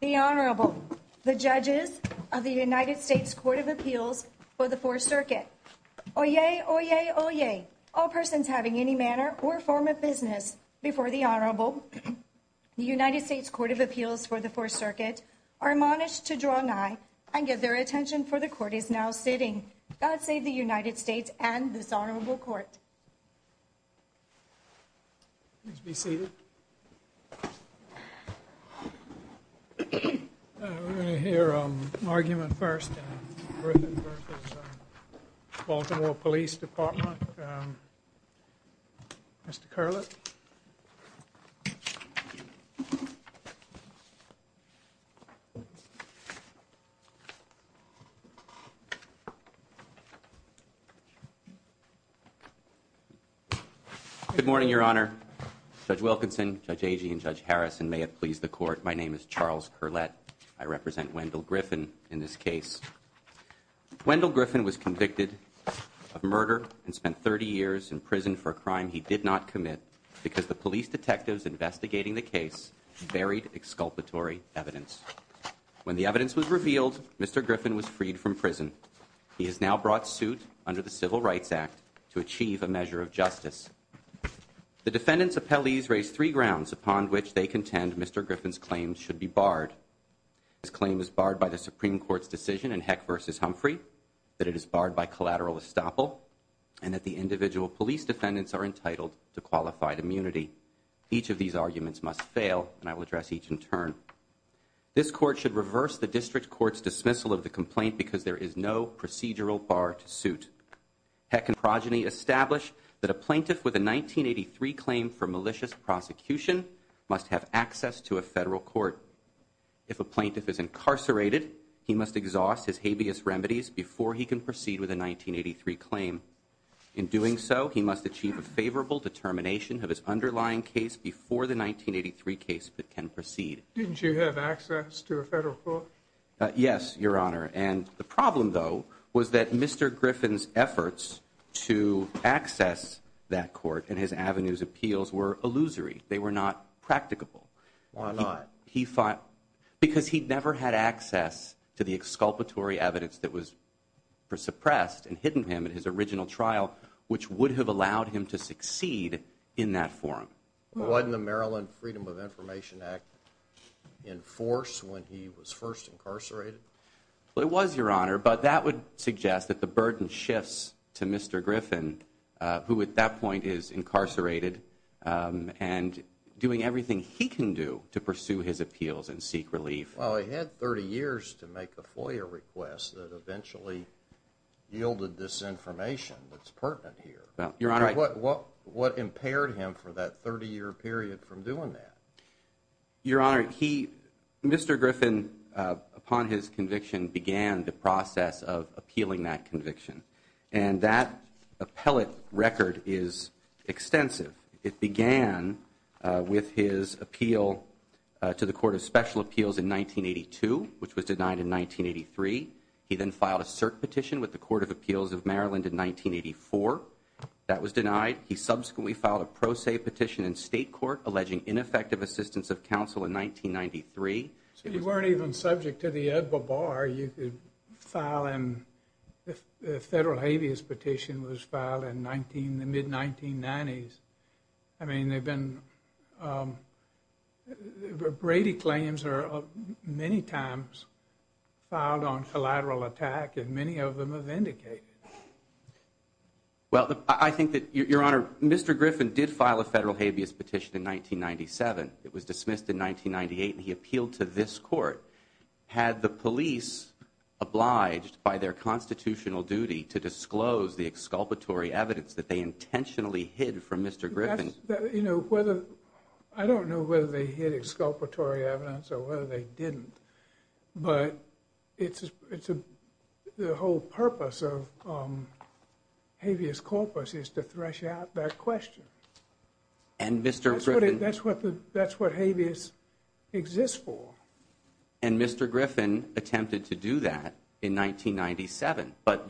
The Honorable, the Judges of the United States Court of Appeals for the Fourth Circuit. Oyez! Oyez! Oyez! All persons having any manner or form of business before the Honorable, the United States Court of Appeals for the Fourth Circuit, are admonished to draw nigh and give their attention, for the Court is now sitting. God save the United States and this Honorable Court. Please be seated. We're going to hear an argument first. Griffin v. Baltimore Police Department. Mr. Curlett. Good morning, Your Honor. Judge Wilkinson, Judge Agee, and Judge Harrison, may it please the Court, my name is Charles Curlett. I represent Wendell Griffin in this case. Wendell Griffin was convicted of murder and spent 30 years in prison for a crime he did not commit because the police detectives investigating the case buried exculpatory evidence. When the evidence was revealed, Mr. Griffin was freed from prison. He has now brought suit under the Civil Rights Act to achieve a measure of justice. The defendants' appellees raise three grounds upon which they contend Mr. Griffin's claim should be barred. His claim is barred by the Supreme Court's decision in Heck v. Humphrey, that it is barred by collateral estoppel, and that the individual police defendants are entitled to qualified immunity. Each of these arguments must fail, and I will address each in turn. This Court should reverse the District Court's dismissal of the complaint because there is no procedural bar to suit. Heck and Progeny establish that a plaintiff with a 1983 claim for malicious prosecution must have access to a federal court. If a plaintiff is incarcerated, he must exhaust his habeas remedies before he can proceed with a 1983 claim. In doing so, he must achieve a favorable determination of his underlying case before the 1983 case can proceed. Didn't you have access to a federal court? Yes, Your Honor, and the problem, though, was that Mr. Griffin's efforts to access that court and his avenue's appeals were illusory. They were not practicable. Why not? Because he never had access to the exculpatory evidence that was suppressed and hidden him in his original trial, which would have allowed him to succeed in that forum. Wasn't the Maryland Freedom of Information Act in force when he was first incarcerated? Well, it was, Your Honor, but that would suggest that the burden shifts to Mr. Griffin, who at that point is incarcerated, and doing everything he can do to pursue his appeals and seek relief. Well, he had 30 years to make a FOIA request that eventually yielded this information that's pertinent here. What impaired him for that 30-year period from doing that? Your Honor, Mr. Griffin, upon his conviction, began the process of appealing that conviction, and that appellate record is extensive. It began with his appeal to the Court of Special Appeals in 1982, which was denied in 1983. He then filed a cert petition with the Court of Appeals of Maryland in 1984. That was denied. He subsequently filed a pro se petition in state court alleging ineffective assistance of counsel in 1993. So you weren't even subject to the Ed Babar. You could file him. The federal habeas petition was filed in the mid-1990s. I mean, Brady claims are many times filed on collateral attack, and many of them are vindicated. Well, I think that, Your Honor, Mr. Griffin did file a federal habeas petition in 1997. It was dismissed in 1998, and he appealed to this court. Had the police obliged by their constitutional duty to disclose the exculpatory evidence that they intentionally hid from Mr. Griffin? You know, I don't know whether they hid exculpatory evidence or whether they didn't, but the whole purpose of habeas corpus is to thresh out that question. That's what habeas exists for. And Mr. Griffin attempted to do that in 1997. But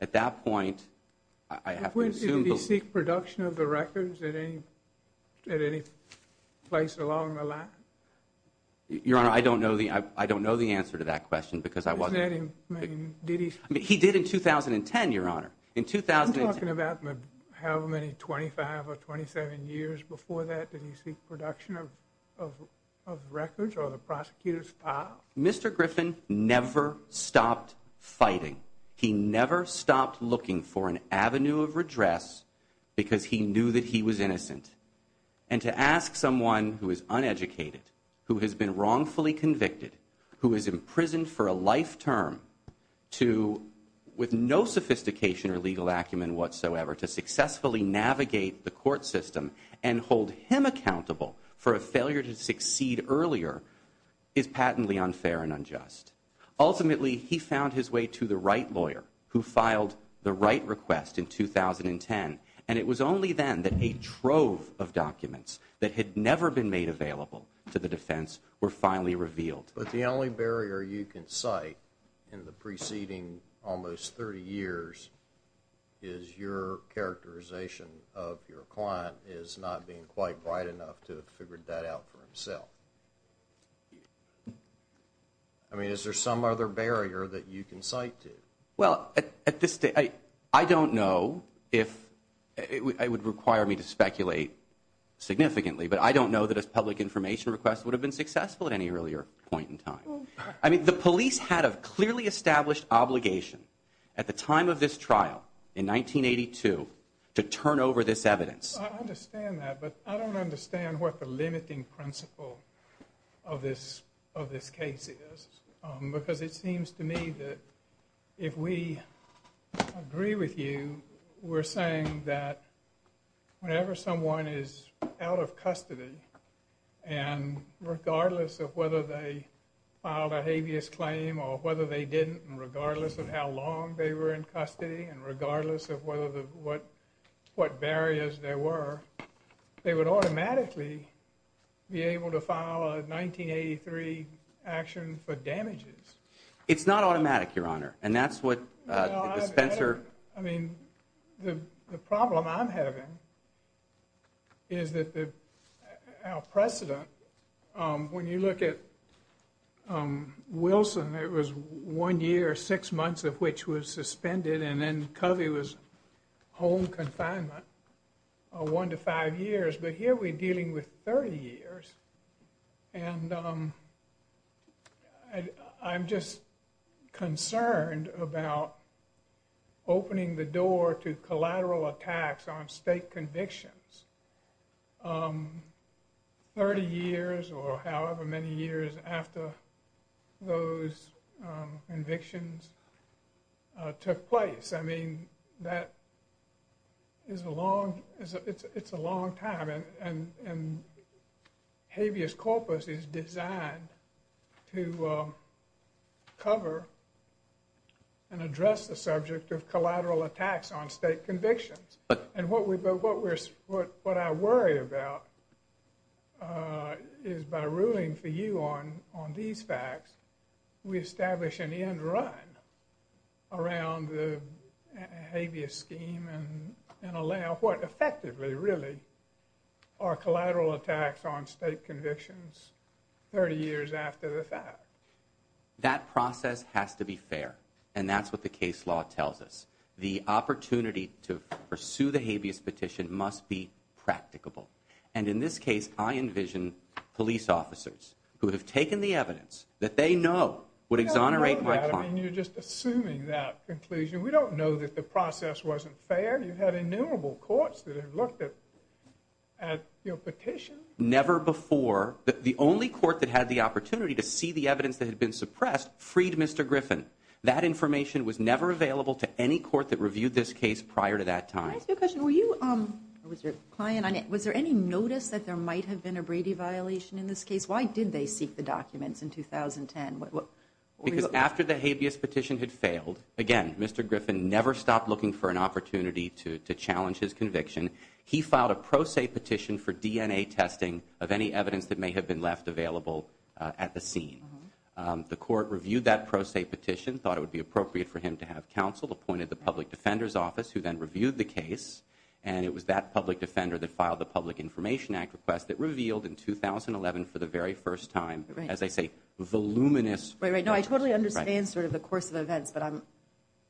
at that point, I have to assume— Did he seek production of the records at any place along the line? Your Honor, I don't know the answer to that question because I wasn't— Isn't that in— He did in 2010, Your Honor. I'm talking about however many 25 or 27 years before that. Did he seek production of records or the prosecutor's file? Mr. Griffin never stopped fighting. He never stopped looking for an avenue of redress because he knew that he was innocent. And to ask someone who is uneducated, who has been wrongfully convicted, who is imprisoned for a life term to—with no sophistication or legal acumen whatsoever—to successfully navigate the court system and hold him accountable for a failure to succeed earlier is patently unfair and unjust. Ultimately, he found his way to the right lawyer who filed the right request in 2010. And it was only then that a trove of documents that had never been made available to the defense were finally revealed. But the only barrier you can cite in the preceding almost 30 years is your characterization of your client as not being quite bright enough to have figured that out for himself. I mean, is there some other barrier that you can cite to? Well, at this—I don't know if—it would require me to speculate significantly, but I don't know that a public information request would have been successful at any earlier point in time. I mean, the police had a clearly established obligation at the time of this trial in 1982 to turn over this evidence. I understand that, but I don't understand what the limiting principle of this case is. Because it seems to me that if we agree with you, we're saying that whenever someone is out of custody, and regardless of whether they filed a habeas claim or whether they didn't, and regardless of how long they were in custody, and regardless of what barriers there were, they would automatically be able to file a 1983 action for damages. It's not automatic, Your Honor. And that's what the Spencer— I mean, the problem I'm having is that the—our precedent, when you look at Wilson, it was one year, six months of which was suspended, and then Covey was home confinement one to five years. But here we're dealing with 30 years, and I'm just concerned about opening the door to collateral attacks on state convictions 30 years or however many years after those convictions took place. I mean, that is a long—it's a long time, and habeas corpus is designed to cover and address the subject of collateral attacks on state convictions. And what we—but what we're—what I worry about is by ruling for you on these facts, we establish an end run around the habeas scheme and allow what effectively, really, are collateral attacks on state convictions 30 years after the fact. That process has to be fair, and that's what the case law tells us. The opportunity to pursue the habeas petition must be practicable. And in this case, I envision police officers who have taken the evidence that they know would exonerate my client. I mean, you're just assuming that conclusion. We don't know that the process wasn't fair. You've had innumerable courts that have looked at your petition. Never before—the only court that had the opportunity to see the evidence that had been suppressed freed Mr. Griffin. That information was never available to any court that reviewed this case prior to that time. Can I ask you a question? Were you—or was your client on it? Was there any notice that there might have been a Brady violation in this case? Why did they seek the documents in 2010? Because after the habeas petition had failed, again, Mr. Griffin never stopped looking for an opportunity to challenge his conviction. He filed a pro se petition for DNA testing of any evidence that may have been left available at the scene. The court reviewed that pro se petition, thought it would be appropriate for him to have counsel, appointed the public defender's office, who then reviewed the case. And it was that public defender that filed the Public Information Act request that revealed in 2011 for the very first time, as I say, voluminous— Right, right.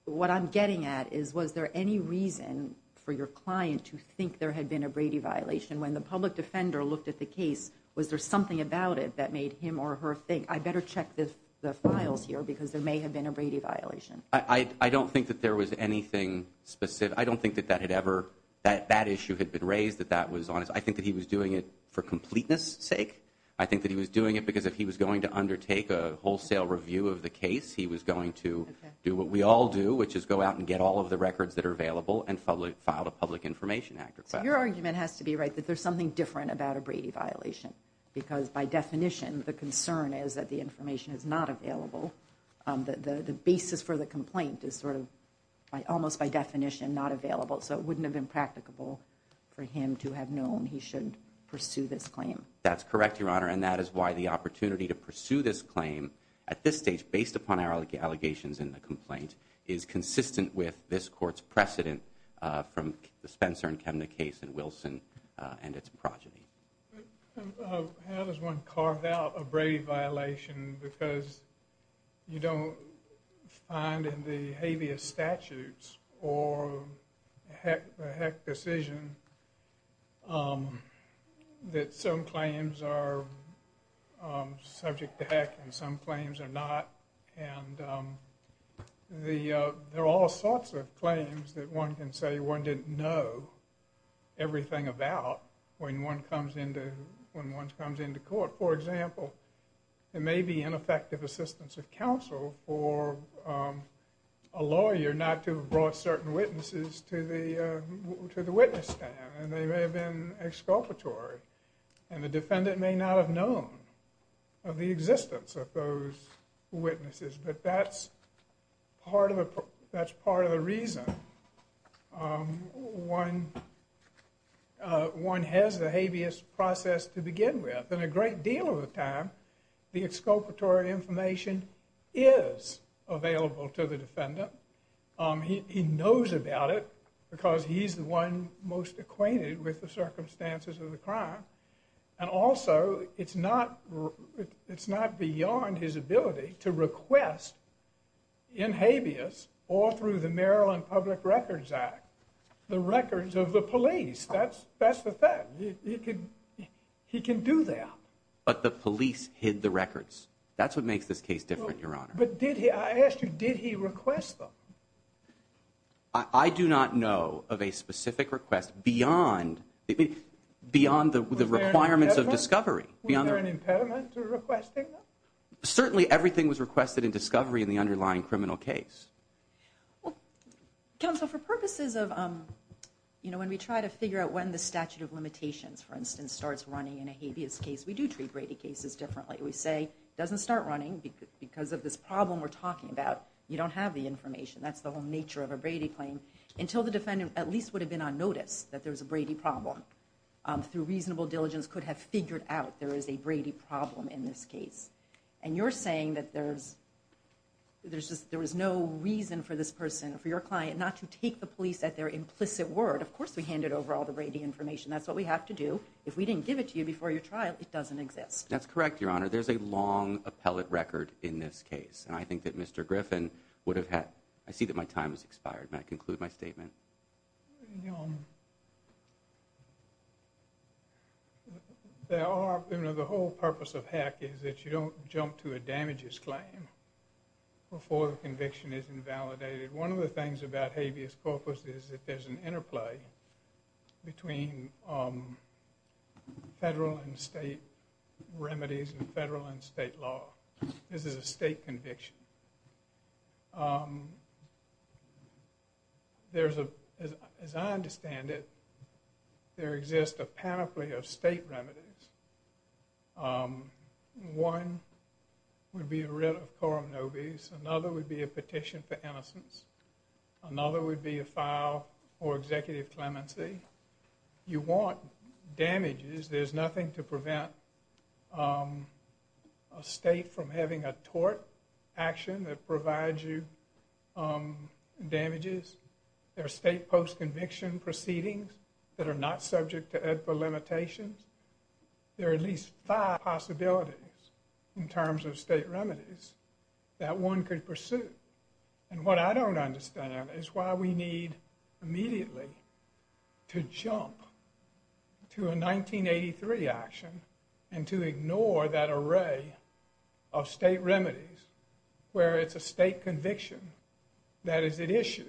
What I'm getting at is, was there any reason for your client to think there had been a Brady violation? When the public defender looked at the case, was there something about it that made him or her think, I better check the files here because there may have been a Brady violation? I don't think that there was anything specific. I don't think that that issue had been raised, that that was on it. I think that he was doing it for completeness sake. I think that he was doing it because if he was going to undertake a wholesale review of the case, he was going to do what we all do, which is go out and get all of the records that are available and file a Public Information Act request. So your argument has to be right, that there's something different about a Brady violation. Because by definition, the concern is that the information is not available. The basis for the complaint is sort of, almost by definition, not available. So it wouldn't have been practicable for him to have known he should pursue this claim. That's correct, Your Honor. And that is why the opportunity to pursue this claim at this stage, based upon our allegations in the complaint, is consistent with this court's precedent from the Spencer and Kemner case and Wilson and its progeny. How does one carve out a Brady violation? Because you don't find in the habeas statutes or the Heck decision that some claims are subject to Heck and some claims are not. And there are all sorts of claims that one can say one didn't know everything about when one comes into court. For example, it may be ineffective assistance of counsel for a lawyer not to have brought certain witnesses to the witness stand. And they may have been exculpatory. And the defendant may not have known of the existence of those witnesses. But that's part of the reason one has the habeas process to begin with. And a great deal of the time, the exculpatory information is available to the defendant. He knows about it because he's the one most acquainted with the circumstances of the crime. And also, it's not beyond his ability to request in habeas or through the Maryland Public Records Act the records of the police. That's the fact. He can do that. But the police hid the records. That's what makes this case different, Your Honor. But I asked you, did he request them? I do not know of a specific request beyond the requirements of discovery. Was there an impairment to requesting them? Certainly, everything was requested in discovery in the underlying criminal case. Counsel, for purposes of when we try to figure out when the statute of limitations, for instance, starts running in a habeas case, we do treat Brady cases differently. We say it doesn't start running because of this problem we're talking about. You don't have the information. That's the whole nature of a Brady claim. Until the defendant at least would have been on notice that there was a Brady problem, through reasonable diligence could have figured out there is a Brady problem in this case. And you're saying that there's no reason for this person, for your client, not to take the police at their implicit word. Of course, we handed over all the Brady information. That's what we have to do. If we didn't give it to you before your trial, it doesn't exist. That's correct, Your Honor. There's a long appellate record in this case. I think that Mr. Griffin would have had – I see that my time has expired. May I conclude my statement? The whole purpose of HECC is that you don't jump to a damages claim before the conviction is invalidated. One of the things about habeas corpus is that there's an interplay between federal and state remedies and federal and state law. This is a state conviction. As I understand it, there exists a panoply of state remedies. One would be a writ of coram nobis. Another would be a petition for innocence. Another would be a file for executive clemency. You want damages. There's nothing to prevent a state from having a tort action that provides you damages. There are state post-conviction proceedings that are not subject to EDPA limitations. There are at least five possibilities in terms of state remedies that one could pursue. What I don't understand is why we need immediately to jump to a 1983 action and to ignore that array of state remedies where it's a state conviction that is at issue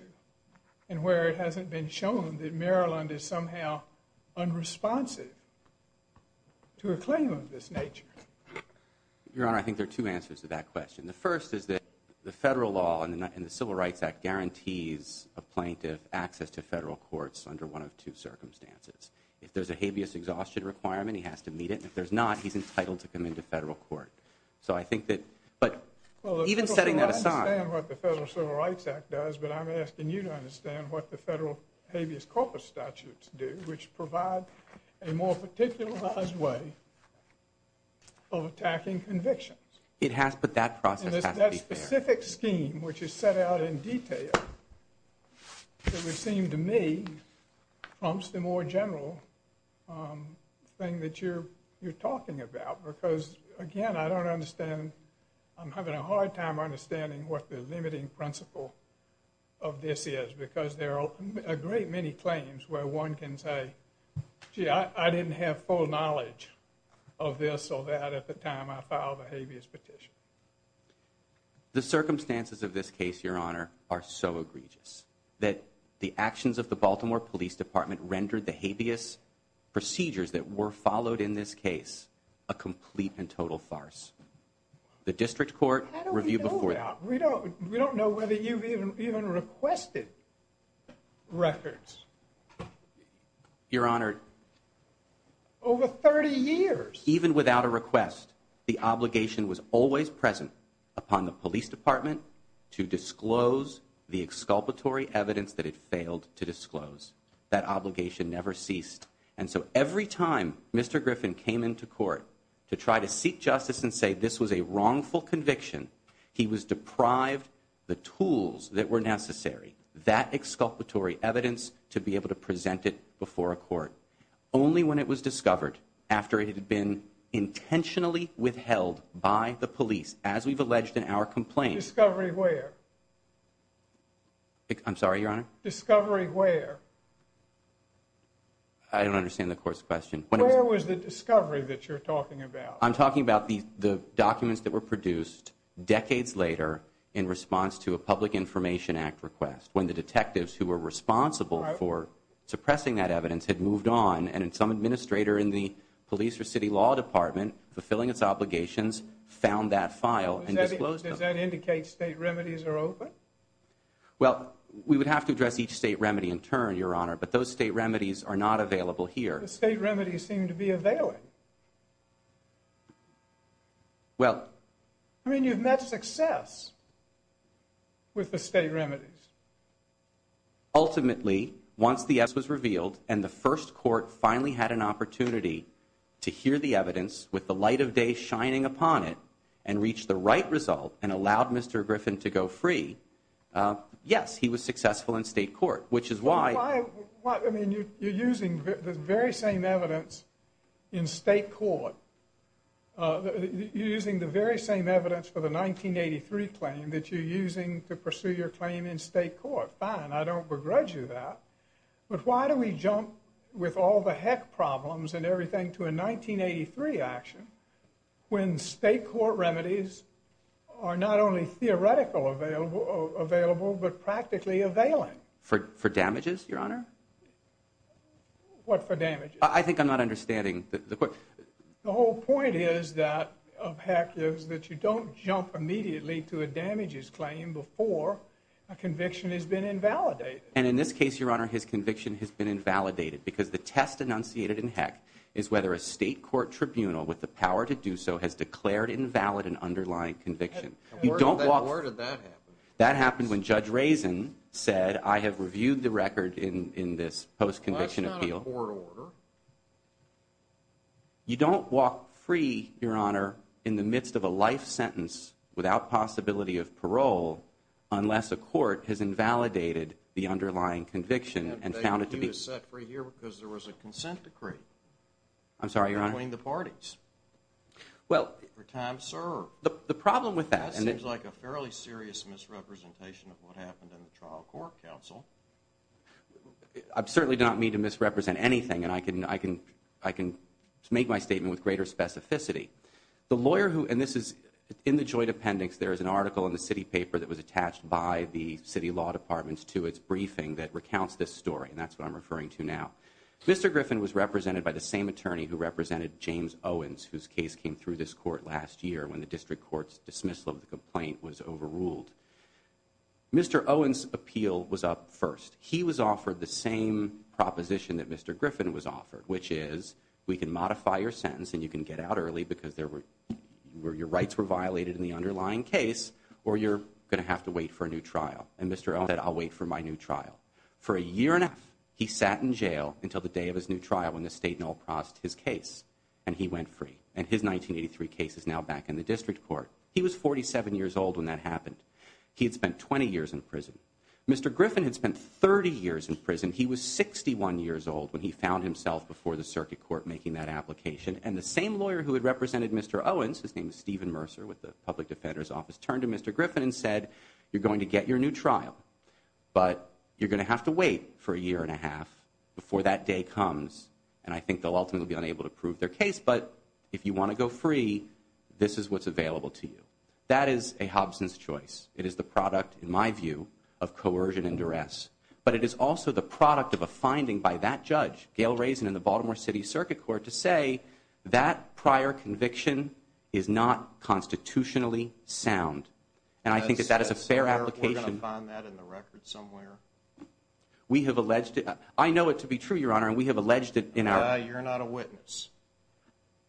and where it hasn't been shown that Maryland is somehow unresponsive to a claim of this nature. Your Honor, I think there are two answers to that question. The first is that the federal law and the Civil Rights Act guarantees a plaintiff access to federal courts under one of two circumstances. If there's a habeas exhaustion requirement, he has to meet it. If there's not, he's entitled to come into federal court. Even setting that aside— I understand what the Federal Civil Rights Act does, but I'm asking you to understand what the federal habeas corpus statutes do, which provide a more particularized way of attacking convictions. It has, but that process has to be fair. That specific scheme, which is set out in detail, it would seem to me prompts the more general thing that you're talking about. Again, I don't understand. I'm having a hard time understanding what the limiting principle of this is because there are a great many claims where one can say, gee, I didn't have full knowledge of this or that at the time I filed a habeas petition. The circumstances of this case, Your Honor, are so egregious that the actions of the Baltimore Police Department rendered the habeas procedures that were followed in this case a complete and total farce. The district court— How do we know that? We don't know whether you've even requested records. Your Honor— Over 30 years. Even without a request, the obligation was always present upon the police department to disclose the exculpatory evidence that it failed to disclose. That obligation never ceased. And so every time Mr. Griffin came into court to try to seek justice and say this was a wrongful conviction, he was deprived the tools that were necessary, that exculpatory evidence, to be able to present it before a court. Only when it was discovered, after it had been intentionally withheld by the police, as we've alleged in our complaint— Discovery where? I'm sorry, Your Honor? Discovery where? I don't understand the court's question. Where was the discovery that you're talking about? Well, I'm talking about the documents that were produced decades later in response to a Public Information Act request, when the detectives who were responsible for suppressing that evidence had moved on, and some administrator in the police or city law department, fulfilling its obligations, found that file and disclosed it. Does that indicate state remedies are open? Well, we would have to address each state remedy in turn, Your Honor, but those state remedies are not available here. But the state remedies seem to be available. Well— I mean, you've met success with the state remedies. Ultimately, once the evidence was revealed and the first court finally had an opportunity to hear the evidence with the light of day shining upon it and reach the right result and allowed Mr. Griffin to go free, yes, he was successful in state court, which is why— Well, I mean, you're using the very same evidence in state court. You're using the very same evidence for the 1983 claim that you're using to pursue your claim in state court. Fine, I don't begrudge you that. But why do we jump with all the heck problems and everything to a 1983 action, when state court remedies are not only theoretical available, but practically available? For damages, Your Honor? What for damages? I think I'm not understanding the question. The whole point is that—of heck is that you don't jump immediately to a damages claim before a conviction has been invalidated. And in this case, Your Honor, his conviction has been invalidated because the test enunciated in heck is whether a state court tribunal with the power to do so has declared invalid an underlying conviction. Where did that happen? That happened when Judge Razin said, I have reviewed the record in this post-conviction appeal. That's not a court order. You don't walk free, Your Honor, in the midst of a life sentence without possibility of parole unless a court has invalidated the underlying conviction and found it to be— And they reviewed it set free here because there was a consent decree. I'm sorry, Your Honor? Between the parties. Well— For time served. The problem with that— That seems like a fairly serious misrepresentation of what happened in the trial court, counsel. I certainly do not mean to misrepresent anything, and I can make my statement with greater specificity. The lawyer who—and this is in the joint appendix. There is an article in the city paper that was attached by the city law department to its briefing that recounts this story, and that's what I'm referring to now. Mr. Griffin was represented by the same attorney who represented James Owens, whose case came through this court last year when the district court's dismissal of the complaint was overruled. Mr. Owens' appeal was up first. He was offered the same proposition that Mr. Griffin was offered, which is, we can modify your sentence and you can get out early because your rights were violated in the underlying case, or you're going to have to wait for a new trial. And Mr. Owens said, I'll wait for my new trial. For a year and a half, he sat in jail until the day of his new trial when the state nullified his case, and he went free. And his 1983 case is now back in the district court. He was 47 years old when that happened. He had spent 20 years in prison. Mr. Griffin had spent 30 years in prison. He was 61 years old when he found himself before the circuit court making that application. And the same lawyer who had represented Mr. Owens, whose name is Stephen Mercer with the Public Defender's Office, turned to Mr. Griffin and said, you're going to get your new trial, but you're going to have to wait for a year and a half before that day comes. And I think they'll ultimately be unable to prove their case, but if you want to go free, this is what's available to you. That is a Hobson's choice. It is the product, in my view, of coercion and duress. But it is also the product of a finding by that judge, Gail Raisin in the Baltimore City Circuit Court, to say that prior conviction is not constitutionally sound. And I think that that is a fair application. We're going to find that in the record somewhere. We have alleged it. I know it to be true, Your Honor, and we have alleged it in our. You're not a witness.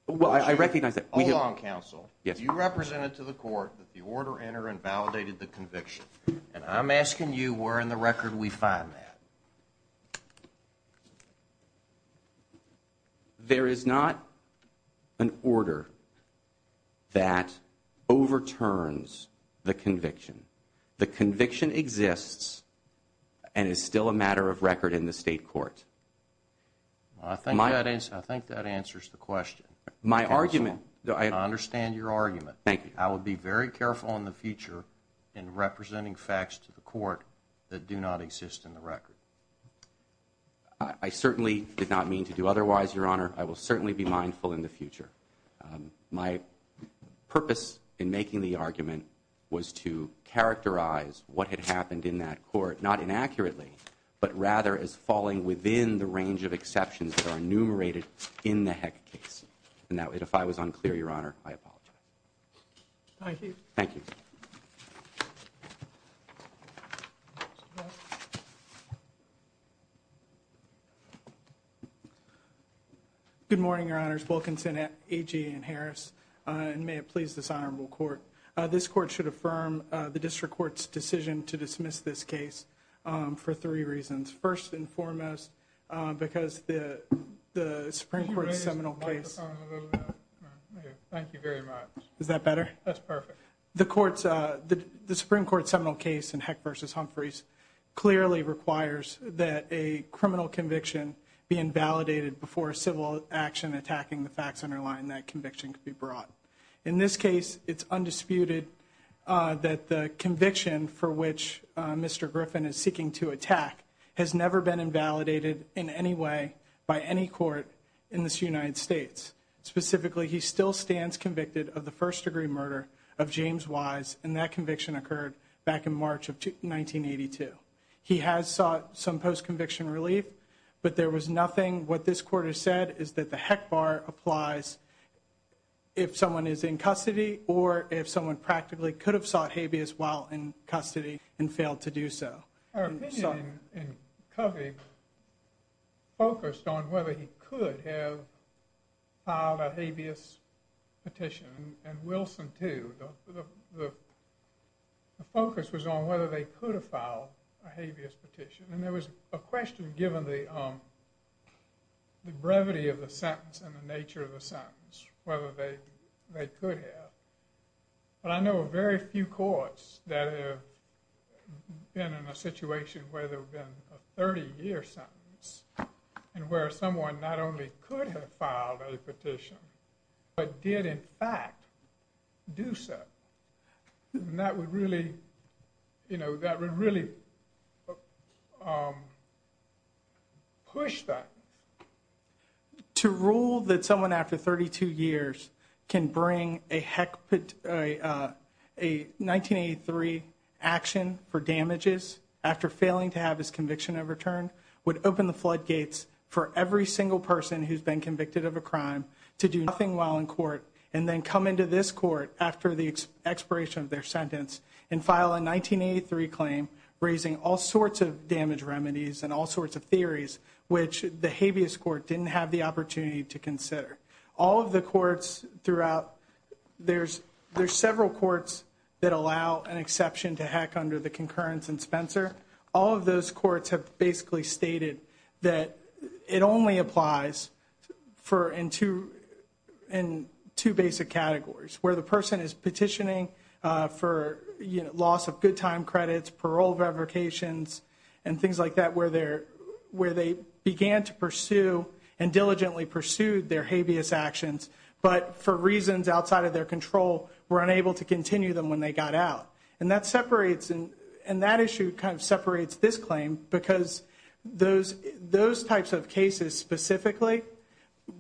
Well, I recognize that. Hold on, counsel. You represented to the court that the order entered and validated the conviction. And I'm asking you where in the record we find that. There is not an order that overturns the conviction. The conviction exists and is still a matter of record in the state court. I think that answers the question, counsel. My argument. I understand your argument. Thank you. I would be very careful in the future in representing facts to the court that do not exist in the record. I certainly did not mean to do otherwise, Your Honor. I will certainly be mindful in the future. My purpose in making the argument was to characterize what had happened in that court, not inaccurately, but rather as falling within the range of exceptions that are enumerated in the Heck case. And if I was unclear, Your Honor, I apologize. Thank you. Thank you. Good morning, Your Honors, Wilkinson, Agee, and Harris, and may it please this honorable court. This court should affirm the district court's decision to dismiss this case for three reasons. First and foremost, because the Supreme Court's seminal case. Could you raise the microphone a little bit? Thank you very much. Is that better? That's perfect. The Supreme Court's seminal case in Heck v. Humphreys clearly requires that a criminal conviction be invalidated before civil action attacking the facts underlying that conviction can be brought. In this case, it's undisputed that the conviction for which Mr. Griffin is seeking to attack has never been invalidated in any way by any court in this United States. Specifically, he still stands convicted of the first-degree murder of James Wise, and that conviction occurred back in March of 1982. He has sought some post-conviction relief, but there was nothing. What this court has said is that the Heck bar applies if someone is in custody or if someone practically could have sought habeas while in custody and failed to do so. Our opinion in Covey focused on whether he could have filed a habeas petition, and Wilson, too. The focus was on whether they could have filed a habeas petition. There was a question given the brevity of the sentence and the nature of the sentence, whether they could have. I know of very few courts that have been in a situation where there have been a 30-year sentence and where someone not only could have filed a petition but did, in fact, do so. That would really push that. To rule that someone after 32 years can bring a 1983 action for damages after failing to have his conviction overturned would open the floodgates for every single person who's been convicted of a crime to do nothing while in court and then come into this court after the expiration of their sentence and file a 1983 claim raising all sorts of damage remedies and all sorts of theories which the habeas court didn't have the opportunity to consider. All of the courts throughout, there's several courts that allow an exception to Heck under the concurrence in Spencer. All of those courts have basically stated that it only applies in two basic categories, where the person is petitioning for loss of good time credits, parole revocations, and things like that where they began to pursue and diligently pursued their habeas actions but for reasons outside of their control were unable to continue them when they got out. And that issue kind of separates this claim because those types of cases specifically,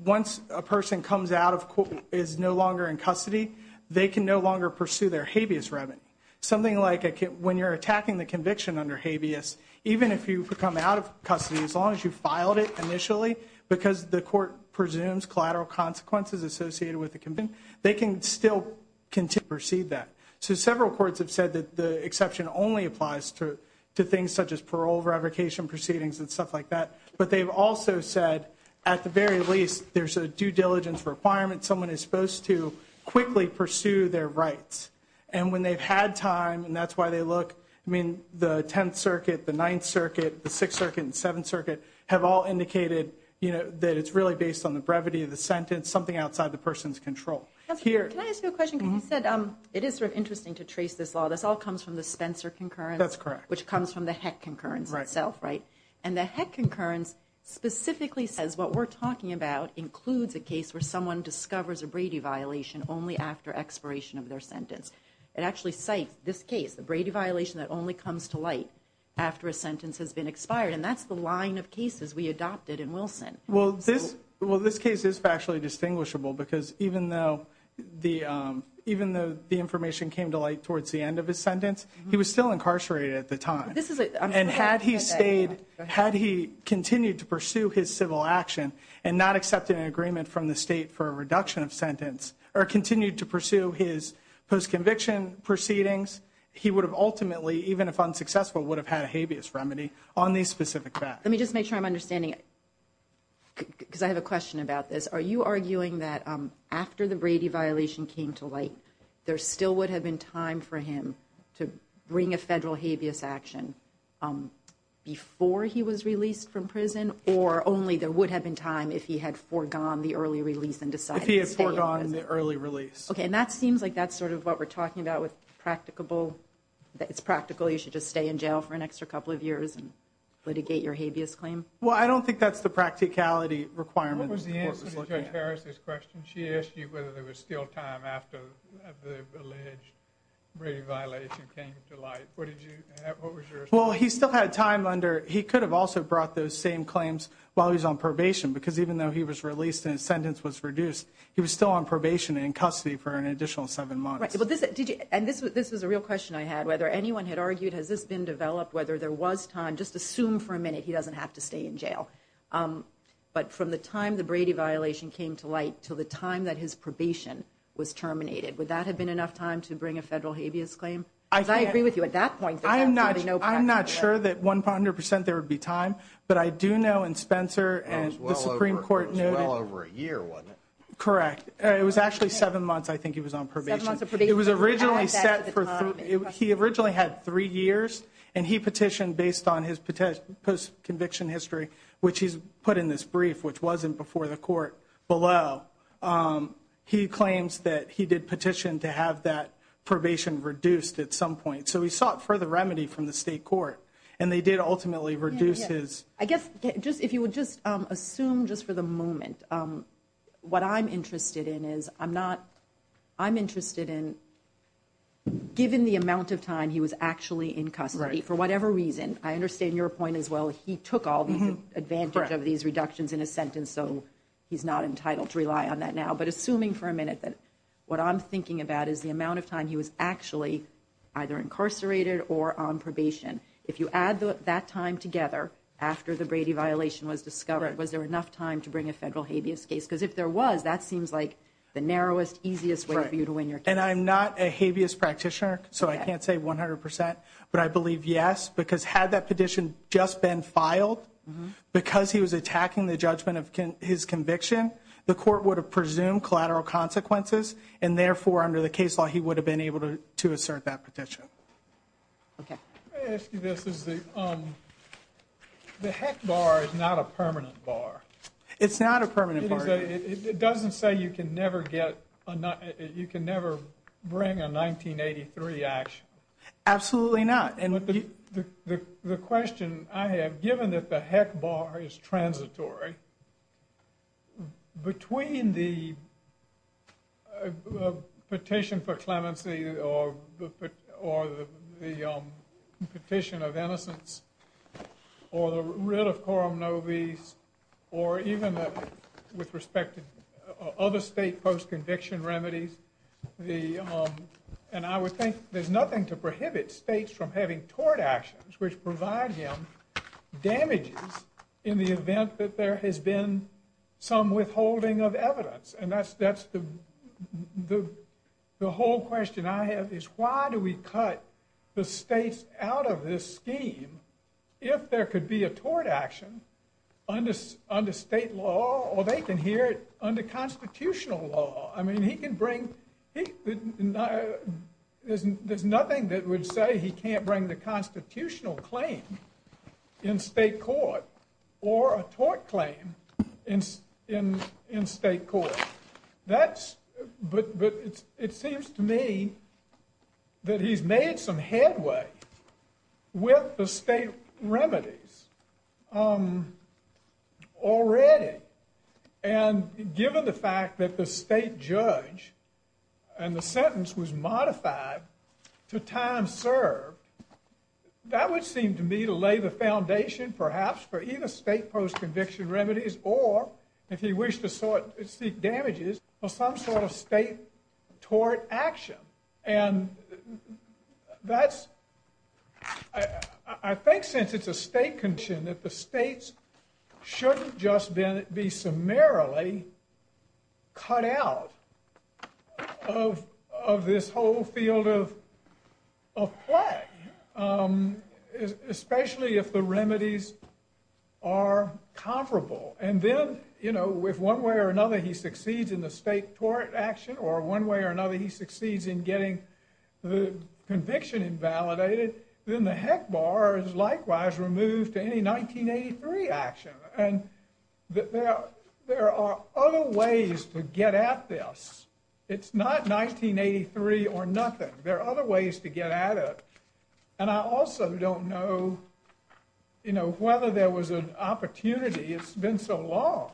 once a person comes out of court and is no longer in custody, they can no longer pursue their habeas remedy. Something like when you're attacking the conviction under habeas, even if you come out of custody, as long as you filed it initially because the court presumes collateral consequences associated with the conviction, they can still continue to proceed that. So several courts have said that the exception only applies to things such as parole, parole revocation proceedings, and stuff like that. But they've also said, at the very least, there's a due diligence requirement. Someone is supposed to quickly pursue their rights. And when they've had time, and that's why they look, I mean, the 10th Circuit, the 9th Circuit, the 6th Circuit, and the 7th Circuit have all indicated that it's really based on the brevity of the sentence, something outside the person's control. Can I ask you a question? Because you said it is sort of interesting to trace this law. This all comes from the Spencer concurrence. That's correct. Which comes from the Heck concurrence itself, right? And the Heck concurrence specifically says what we're talking about includes a case where someone discovers a Brady violation only after expiration of their sentence. It actually cites this case, the Brady violation that only comes to light after a sentence has been expired. And that's the line of cases we adopted in Wilson. Well, this case is factually distinguishable because even though the information came to light towards the end of his sentence, he was still incarcerated at the time. And had he stayed, had he continued to pursue his civil action and not accepted an agreement from the state for a reduction of sentence or continued to pursue his post-conviction proceedings, he would have ultimately, even if unsuccessful, would have had a habeas remedy on these specific facts. Let me just make sure I'm understanding, because I have a question about this. Are you arguing that after the Brady violation came to light, there still would have been time for him to bring a federal habeas action before he was released from prison, or only there would have been time if he had foregone the early release and decided to stay? If he had foregone the early release. Okay, and that seems like that's sort of what we're talking about with practicable. It's practical, you should just stay in jail for an extra couple of years and litigate your habeas claim. Well, I don't think that's the practicality requirement. What was the answer to Judge Harris's question? She asked you whether there was still time after the alleged Brady violation came to light. What was your response? Well, he still had time under. He could have also brought those same claims while he was on probation, because even though he was released and his sentence was reduced, he was still on probation and in custody for an additional seven months. And this was a real question I had. Whether anyone had argued, has this been developed? Whether there was time? Just assume for a minute he doesn't have to stay in jail. But from the time the Brady violation came to light to the time that his probation was terminated, would that have been enough time to bring a federal habeas claim? I agree with you at that point. I'm not sure that 100% there would be time, but I do know in Spencer and the Supreme Court noted. It was well over a year, wasn't it? It was actually seven months I think he was on probation. Seven months of probation. He originally had three years, and he petitioned based on his conviction history, which he's put in this brief, which wasn't before the court below. He claims that he did petition to have that probation reduced at some point. So he sought further remedy from the state court, and they did ultimately reduce his. I guess if you would just assume just for the moment, what I'm interested in is, I'm interested in given the amount of time he was actually in custody for whatever reason. I understand your point as well. He took all the advantage of these reductions in his sentence, so he's not entitled to rely on that now. But assuming for a minute that what I'm thinking about is the amount of time he was actually either incarcerated or on probation. If you add that time together after the Brady violation was discovered, was there enough time to bring a federal habeas case? Because if there was, that seems like the narrowest, easiest way for you to win your case. And I'm not a habeas practitioner, so I can't say 100%, but I believe yes. Because had that petition just been filed, because he was attacking the judgment of his conviction, the court would have presumed collateral consequences, and therefore under the case law he would have been able to assert that petition. Okay. The heck bar is not a permanent bar. It's not a permanent bar. It doesn't say you can never get, you can never bring a 1983 action. Absolutely not. The question I have, given that the heck bar is transitory, between the petition for clemency or the petition of innocence or the writ of coram nobis, or even with respect to other state post-conviction remedies, and I would think there's nothing to prohibit states from having tort actions which provide him damages in the event that there has been some withholding of evidence. And that's the whole question I have, is why do we cut the states out of this scheme if there could be a tort action under state law, or they can hear it under constitutional law. I mean, he can bring, there's nothing that would say he can't bring the constitutional claim in state court or a tort claim in state court. That's, but it seems to me that he's made some headway with the state remedies already. And given the fact that the state judge and the sentence was modified to time served, that would seem to me to lay the foundation perhaps for either state post-conviction remedies or, if he wished to seek damages, for some sort of state tort action. And that's, I think since it's a state contention that the states shouldn't just be summarily cut out of this whole field of play, especially if the remedies are comparable. And then, you know, if one way or another he succeeds in the state tort action or one way or another he succeeds in getting the conviction invalidated, then the heck bar is likewise removed to any 1983 action. And there are other ways to get at this. It's not 1983 or nothing. There are other ways to get at it. And I also don't know, you know, whether there was an opportunity, it's been so long,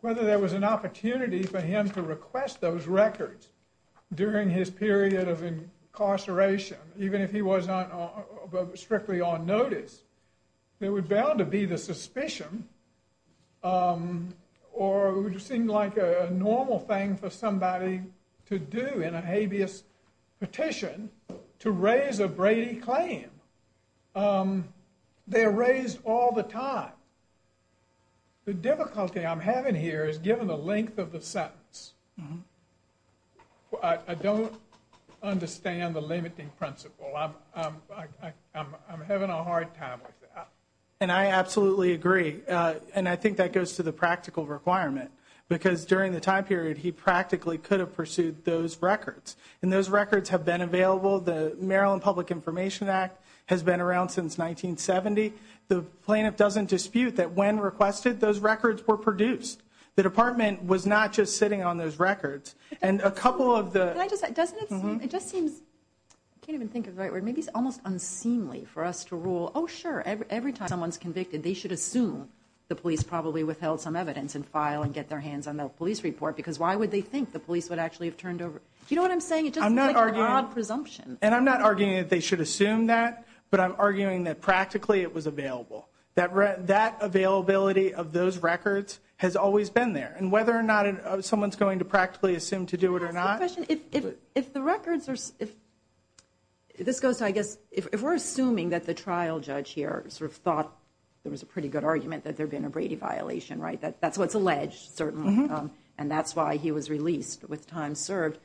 whether there was an opportunity for him to request those records during his period of incarceration, even if he was not strictly on notice, there would bound to be the suspicion or it would seem like a normal thing for somebody to do in a habeas petition to raise a Brady claim. They are raised all the time. The difficulty I'm having here is given the length of the sentence. I don't understand the limiting principle. I'm having a hard time with that. And I absolutely agree. And I think that goes to the practical requirement. Because during the time period, he practically could have pursued those records. And those records have been available. The Maryland Public Information Act has been around since 1970. The plaintiff doesn't dispute that when requested, those records were produced. The department was not just sitting on those records. And a couple of the... It just seems, I can't even think of the right word, maybe it's almost unseemly for us to rule, oh, sure, every time someone's convicted, they should assume the police probably withheld some evidence and file and get their hands on the police report, because why would they think the police would actually have turned over... You know what I'm saying? It's just an odd presumption. And I'm not arguing that they should assume that, but I'm arguing that practically it was available. That availability of those records has always been there. And whether or not someone's going to practically assume to do it or not... If the records are... This goes to, I guess, if we're assuming that the trial judge here sort of thought there was a pretty good argument that there had been a Brady violation, right? That's what's alleged, certainly. And that's why he was released with time served.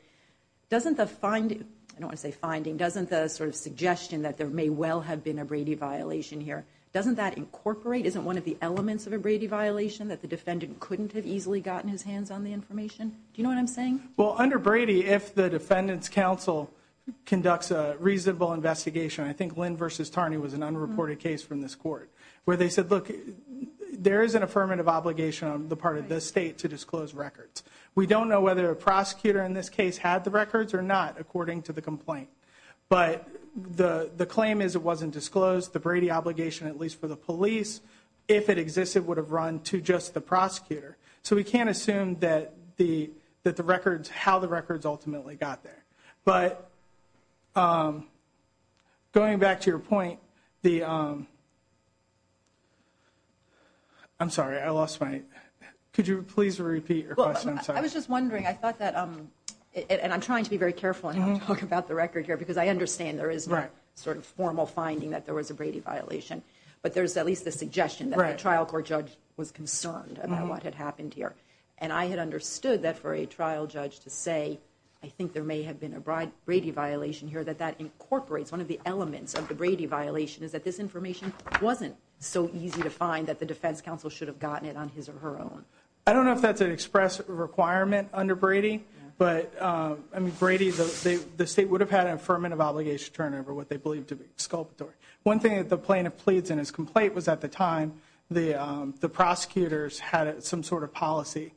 Doesn't the finding, I don't want to say finding, doesn't the sort of suggestion that there may well have been a Brady violation here, doesn't that incorporate, isn't one of the elements of a Brady violation that the defendant couldn't have easily gotten his hands on the information? Do you know what I'm saying? Well, under Brady, if the defendant's counsel conducts a reasonable investigation, I think Lynn v. Tarney was an unreported case from this court, where they said, look, there is an affirmative obligation on the part of this state to disclose records. We don't know whether a prosecutor in this case had the records or not, according to the complaint. But the claim is it wasn't disclosed. The Brady obligation, at least for the police, if it existed, would have run to just the prosecutor. So we can't assume that the records, how the records ultimately got there. But going back to your point, the, I'm sorry, I lost my, could you please repeat your question? I was just wondering, I thought that, and I'm trying to be very careful in how I talk about the record here, because I understand there is no sort of formal finding that there was a Brady violation, but there's at least the suggestion that a trial court judge was concerned about what had happened here. And I had understood that for a trial judge to say, I think there may have been a Brady violation here, that that incorporates one of the elements of the Brady violation, is that this information wasn't so easy to find that the defense counsel should have gotten it on his or her own. I don't know if that's an express requirement under Brady, but, I mean, Brady, the state would have had an affirmative obligation to turn over what they believed to be exculpatory. One thing that the plaintiff pleads in his complaint was at the time, the prosecutors had some sort of policy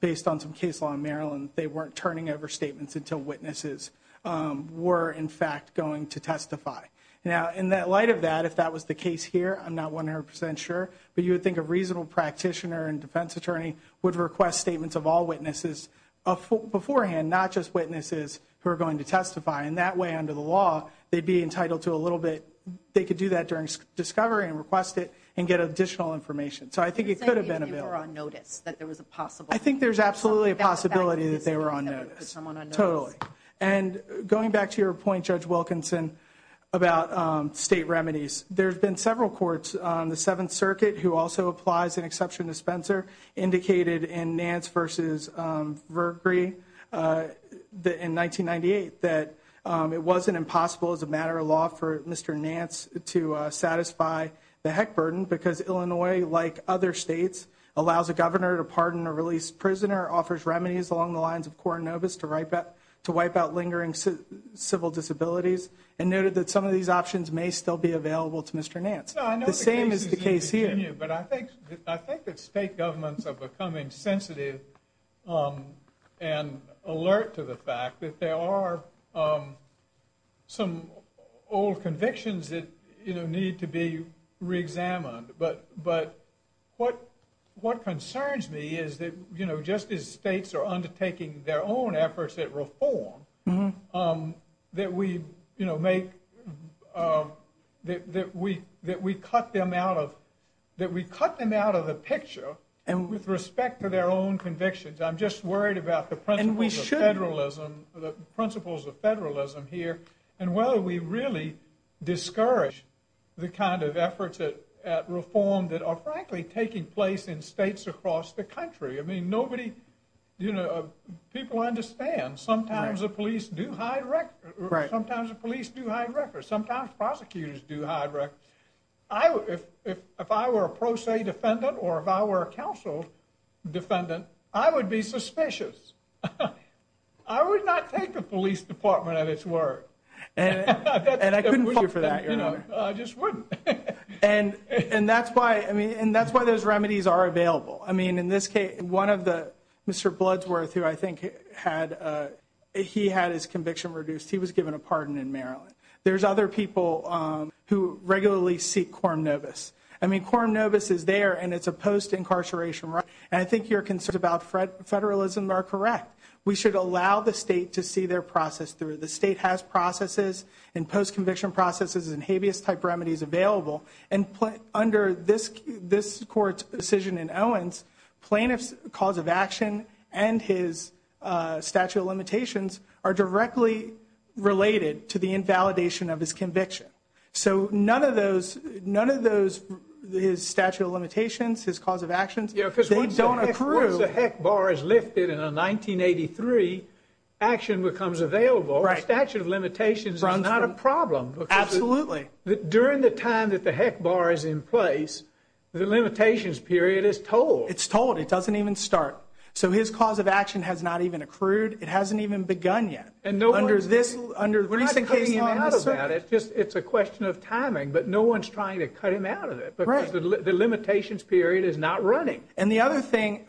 based on some case law in Maryland. They weren't turning over statements until witnesses were, in fact, going to testify. Now, in light of that, if that was the case here, I'm not 100% sure, but you would think a reasonable practitioner and defense attorney would request statements of all witnesses beforehand, not just witnesses who are going to testify. And that way, under the law, they'd be entitled to a little bit. They could do that during discovery and request it and get additional information. So I think it could have been a bill. They were on notice that there was a possible. I think there's absolutely a possibility that they were on notice. Totally. And going back to your point, Judge Wilkinson, about state remedies, there's been several courts on the Seventh Circuit who also applies an exception to Spencer, indicated in Nance v. Vercree in 1998, that it wasn't impossible as a matter of law for Mr. Nance to satisfy the heck burden because Illinois, like other states, allows a governor to pardon a released prisoner, offers remedies along the lines of Coronavis to wipe out lingering civil disabilities, and noted that some of these options may still be available to Mr. Nance. The same is the case here. But I think that state governments are becoming sensitive and alert to the fact that there are some old convictions that need to be reexamined. But what concerns me is that just as states are undertaking their own efforts at reform, that we cut them out of the picture with respect to their own convictions. I'm just worried about the principles of federalism here and whether we really discourage the kind of efforts at reform that are frankly taking place in states across the country. People understand sometimes the police do hide records. Sometimes the police do hide records. Sometimes prosecutors do hide records. If I were a pro se defendant or if I were a counsel defendant, I would be suspicious. I would not take the police department at its word. And I couldn't fault you for that, Your Honor. I just wouldn't. And that's why those remedies are available. I mean, in this case, Mr. Bloodsworth, who I think he had his conviction reduced, he was given a pardon in Maryland. There's other people who regularly seek quorum novis. I mean, quorum novis is there, and it's a post-incarceration remedy. And I think your concerns about federalism are correct. We should allow the state to see their process through. The state has processes and post-conviction processes and habeas-type remedies available. And under this court's decision in Owens, plaintiff's cause of action and his statute of limitations are directly related to the invalidation of his conviction. So none of those, his statute of limitations, his cause of actions, they don't accrue. Yeah, because once the heck bar is lifted in a 1983, action becomes available. The statute of limitations is not a problem. Absolutely. During the time that the heck bar is in place, the limitations period is told. It's told. It doesn't even start. So his cause of action has not even accrued. It hasn't even begun yet. And no one's trying to cut him out of it. It's a question of timing, but no one's trying to cut him out of it because the limitations period is not running. And the other thing,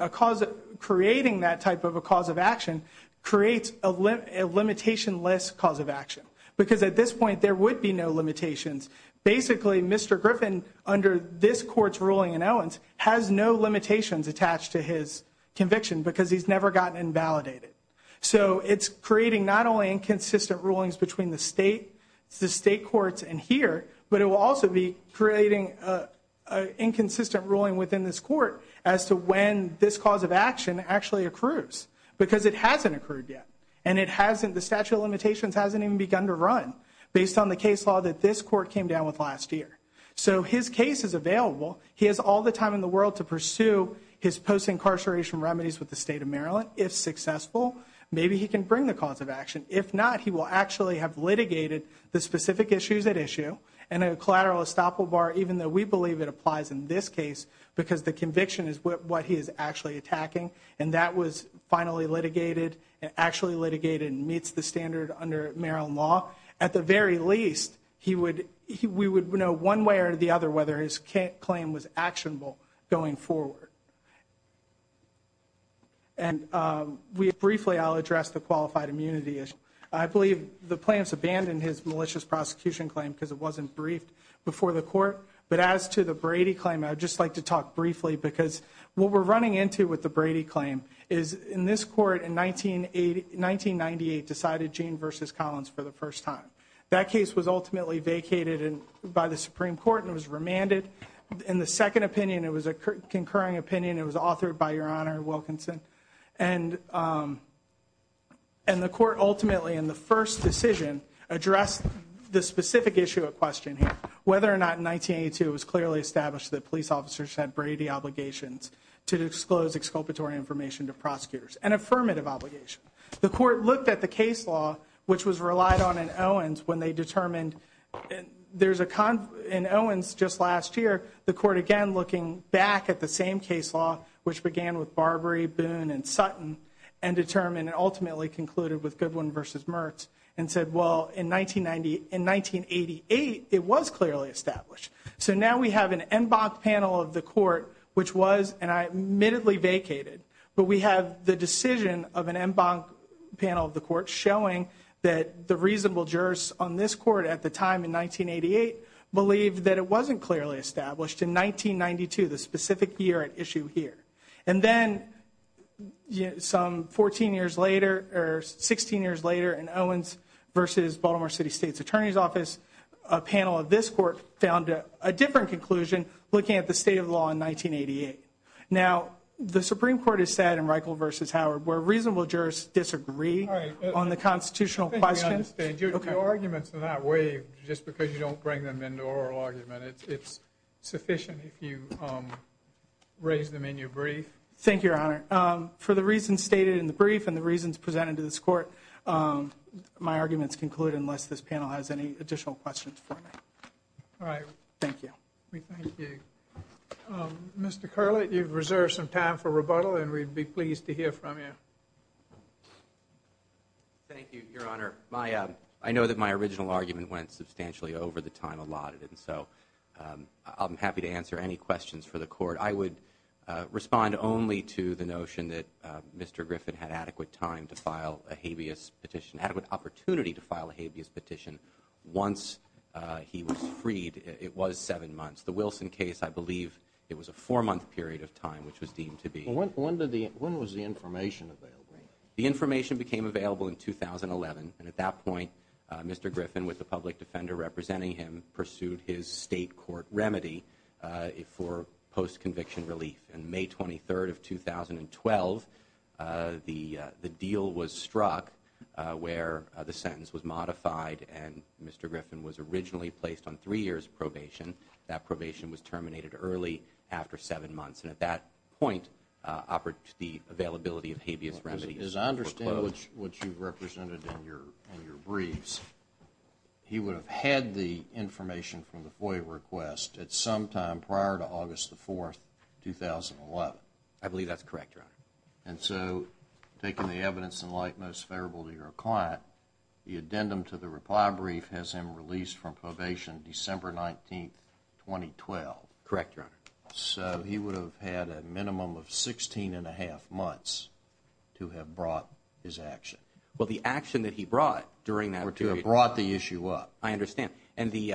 creating that type of a cause of action creates a limitation-less cause of action because at this point there would be no limitations. Basically, Mr. Griffin, under this court's ruling in Owens, has no limitations attached to his conviction because he's never gotten invalidated. So it's creating not only inconsistent rulings between the state courts and here, but it will also be creating inconsistent ruling within this court as to when this cause of action actually accrues because it hasn't accrued yet. And the statute of limitations hasn't even begun to run based on the case law that this court came down with last year. So his case is available. He has all the time in the world to pursue his post-incarceration remedies with the state of Maryland. If successful, maybe he can bring the cause of action. If not, he will actually have litigated the specific issues at issue, and a collateral estoppel bar, even though we believe it applies in this case because the conviction is what he is actually attacking, and that was finally litigated and actually litigated and meets the standard under Maryland law. At the very least, we would know one way or the other whether his claim was actionable going forward. And briefly, I'll address the qualified immunity issue. I believe the plaintiffs abandoned his malicious prosecution claim because it wasn't briefed before the court. But as to the Brady claim, I would just like to talk briefly because what we're running into with the Brady claim is in this court in 1998 decided Gene v. Collins for the first time. That case was ultimately vacated by the Supreme Court and was remanded. In the second opinion, it was a concurring opinion. It was authored by Your Honor Wilkinson. And the court ultimately in the first decision addressed the specific issue at question here. Whether or not in 1982 it was clearly established that police officers had Brady obligations to disclose exculpatory information to prosecutors, an affirmative obligation, the court looked at the case law, which was relied on in Owens, when they determined there's a con in Owens just last year, the court again looking back at the same case law, which began with Barbary, Boone, and Sutton, and determined and ultimately concluded with Goodwin v. Mertz, and said, well, in 1988 it was clearly established. So now we have an en banc panel of the court, which was and I admittedly vacated, but we have the decision of an en banc panel of the court showing that the reasonable jurors on this court at the time in 1988 believed that it wasn't clearly established in 1992, the specific year at issue here. And then some 14 years later or 16 years later in Owens v. Baltimore City State's Attorney's Office, a panel of this court found a different conclusion looking at the state of the law in 1988. Now, the Supreme Court has said in Reichel v. Howard where reasonable jurors disagree on the constitutional questions. Your arguments are not waived just because you don't bring them into oral argument. It's sufficient if you raise them in your brief. Thank you, Your Honor. For the reasons stated in the brief and the reasons presented to this court, my arguments conclude unless this panel has any additional questions for me. All right. Thank you. We thank you. Mr. Curlit, you've reserved some time for rebuttal, and we'd be pleased to hear from you. Thank you, Your Honor. Your Honor, I know that my original argument went substantially over the time allotted, and so I'm happy to answer any questions for the court. I would respond only to the notion that Mr. Griffin had adequate time to file a habeas petition, adequate opportunity to file a habeas petition once he was freed. It was seven months. The Wilson case, I believe it was a four-month period of time which was deemed to be. When was the information available? The information became available in 2011, and at that point Mr. Griffin, with the public defender representing him, pursued his state court remedy for post-conviction relief. On May 23rd of 2012, the deal was struck where the sentence was modified and Mr. Griffin was originally placed on three years probation. That probation was terminated early after seven months, and at that point the availability of habeas remedies was closed. As I understand what you've represented in your briefs, he would have had the information from the FOIA request at some time prior to August 4th, 2011. I believe that's correct, Your Honor. And so, taking the evidence in light most favorable to your client, the addendum to the reply brief has him released from probation December 19th, 2012. Correct, Your Honor. So he would have had a minimum of 16 1⁄2 months to have brought his action. Well, the action that he brought during that period. To have brought the issue up. I understand. And the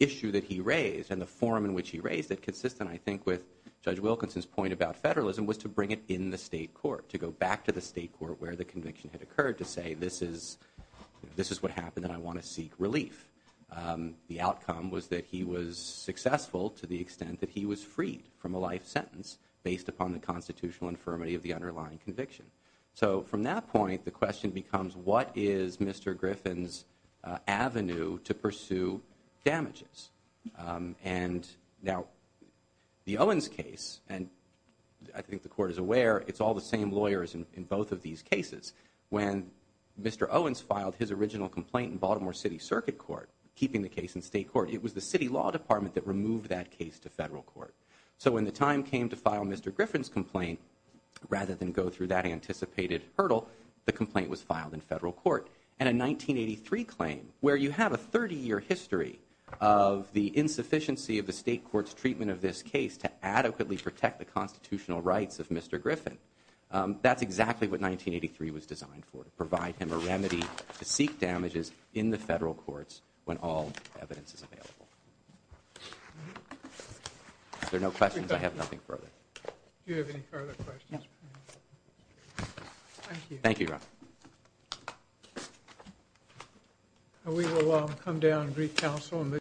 issue that he raised and the form in which he raised it, consistent I think with Judge Wilkinson's point about federalism, was to bring it in the state court, to go back to the state court where the conviction had occurred to say, this is what happened and I want to seek relief. The outcome was that he was successful to the extent that he was freed from a life sentence based upon the constitutional infirmity of the underlying conviction. So from that point, the question becomes, what is Mr. Griffin's avenue to pursue damages? And now, the Owens case, and I think the court is aware, it's all the same lawyers in both of these cases. When Mr. Owens filed his original complaint in Baltimore City Circuit Court, keeping the case in state court, it was the city law department that removed that case to federal court. So when the time came to file Mr. Griffin's complaint, rather than go through that anticipated hurdle, the complaint was filed in federal court. And a 1983 claim, where you have a 30-year history of the insufficiency of the state court's treatment of this case to adequately protect the constitutional rights of Mr. Griffin, that's exactly what 1983 was designed for, to provide him a remedy to seek damages in the federal courts when all evidence is available. If there are no questions, I have nothing further. Do you have any further questions? Thank you. Thank you, Your Honor.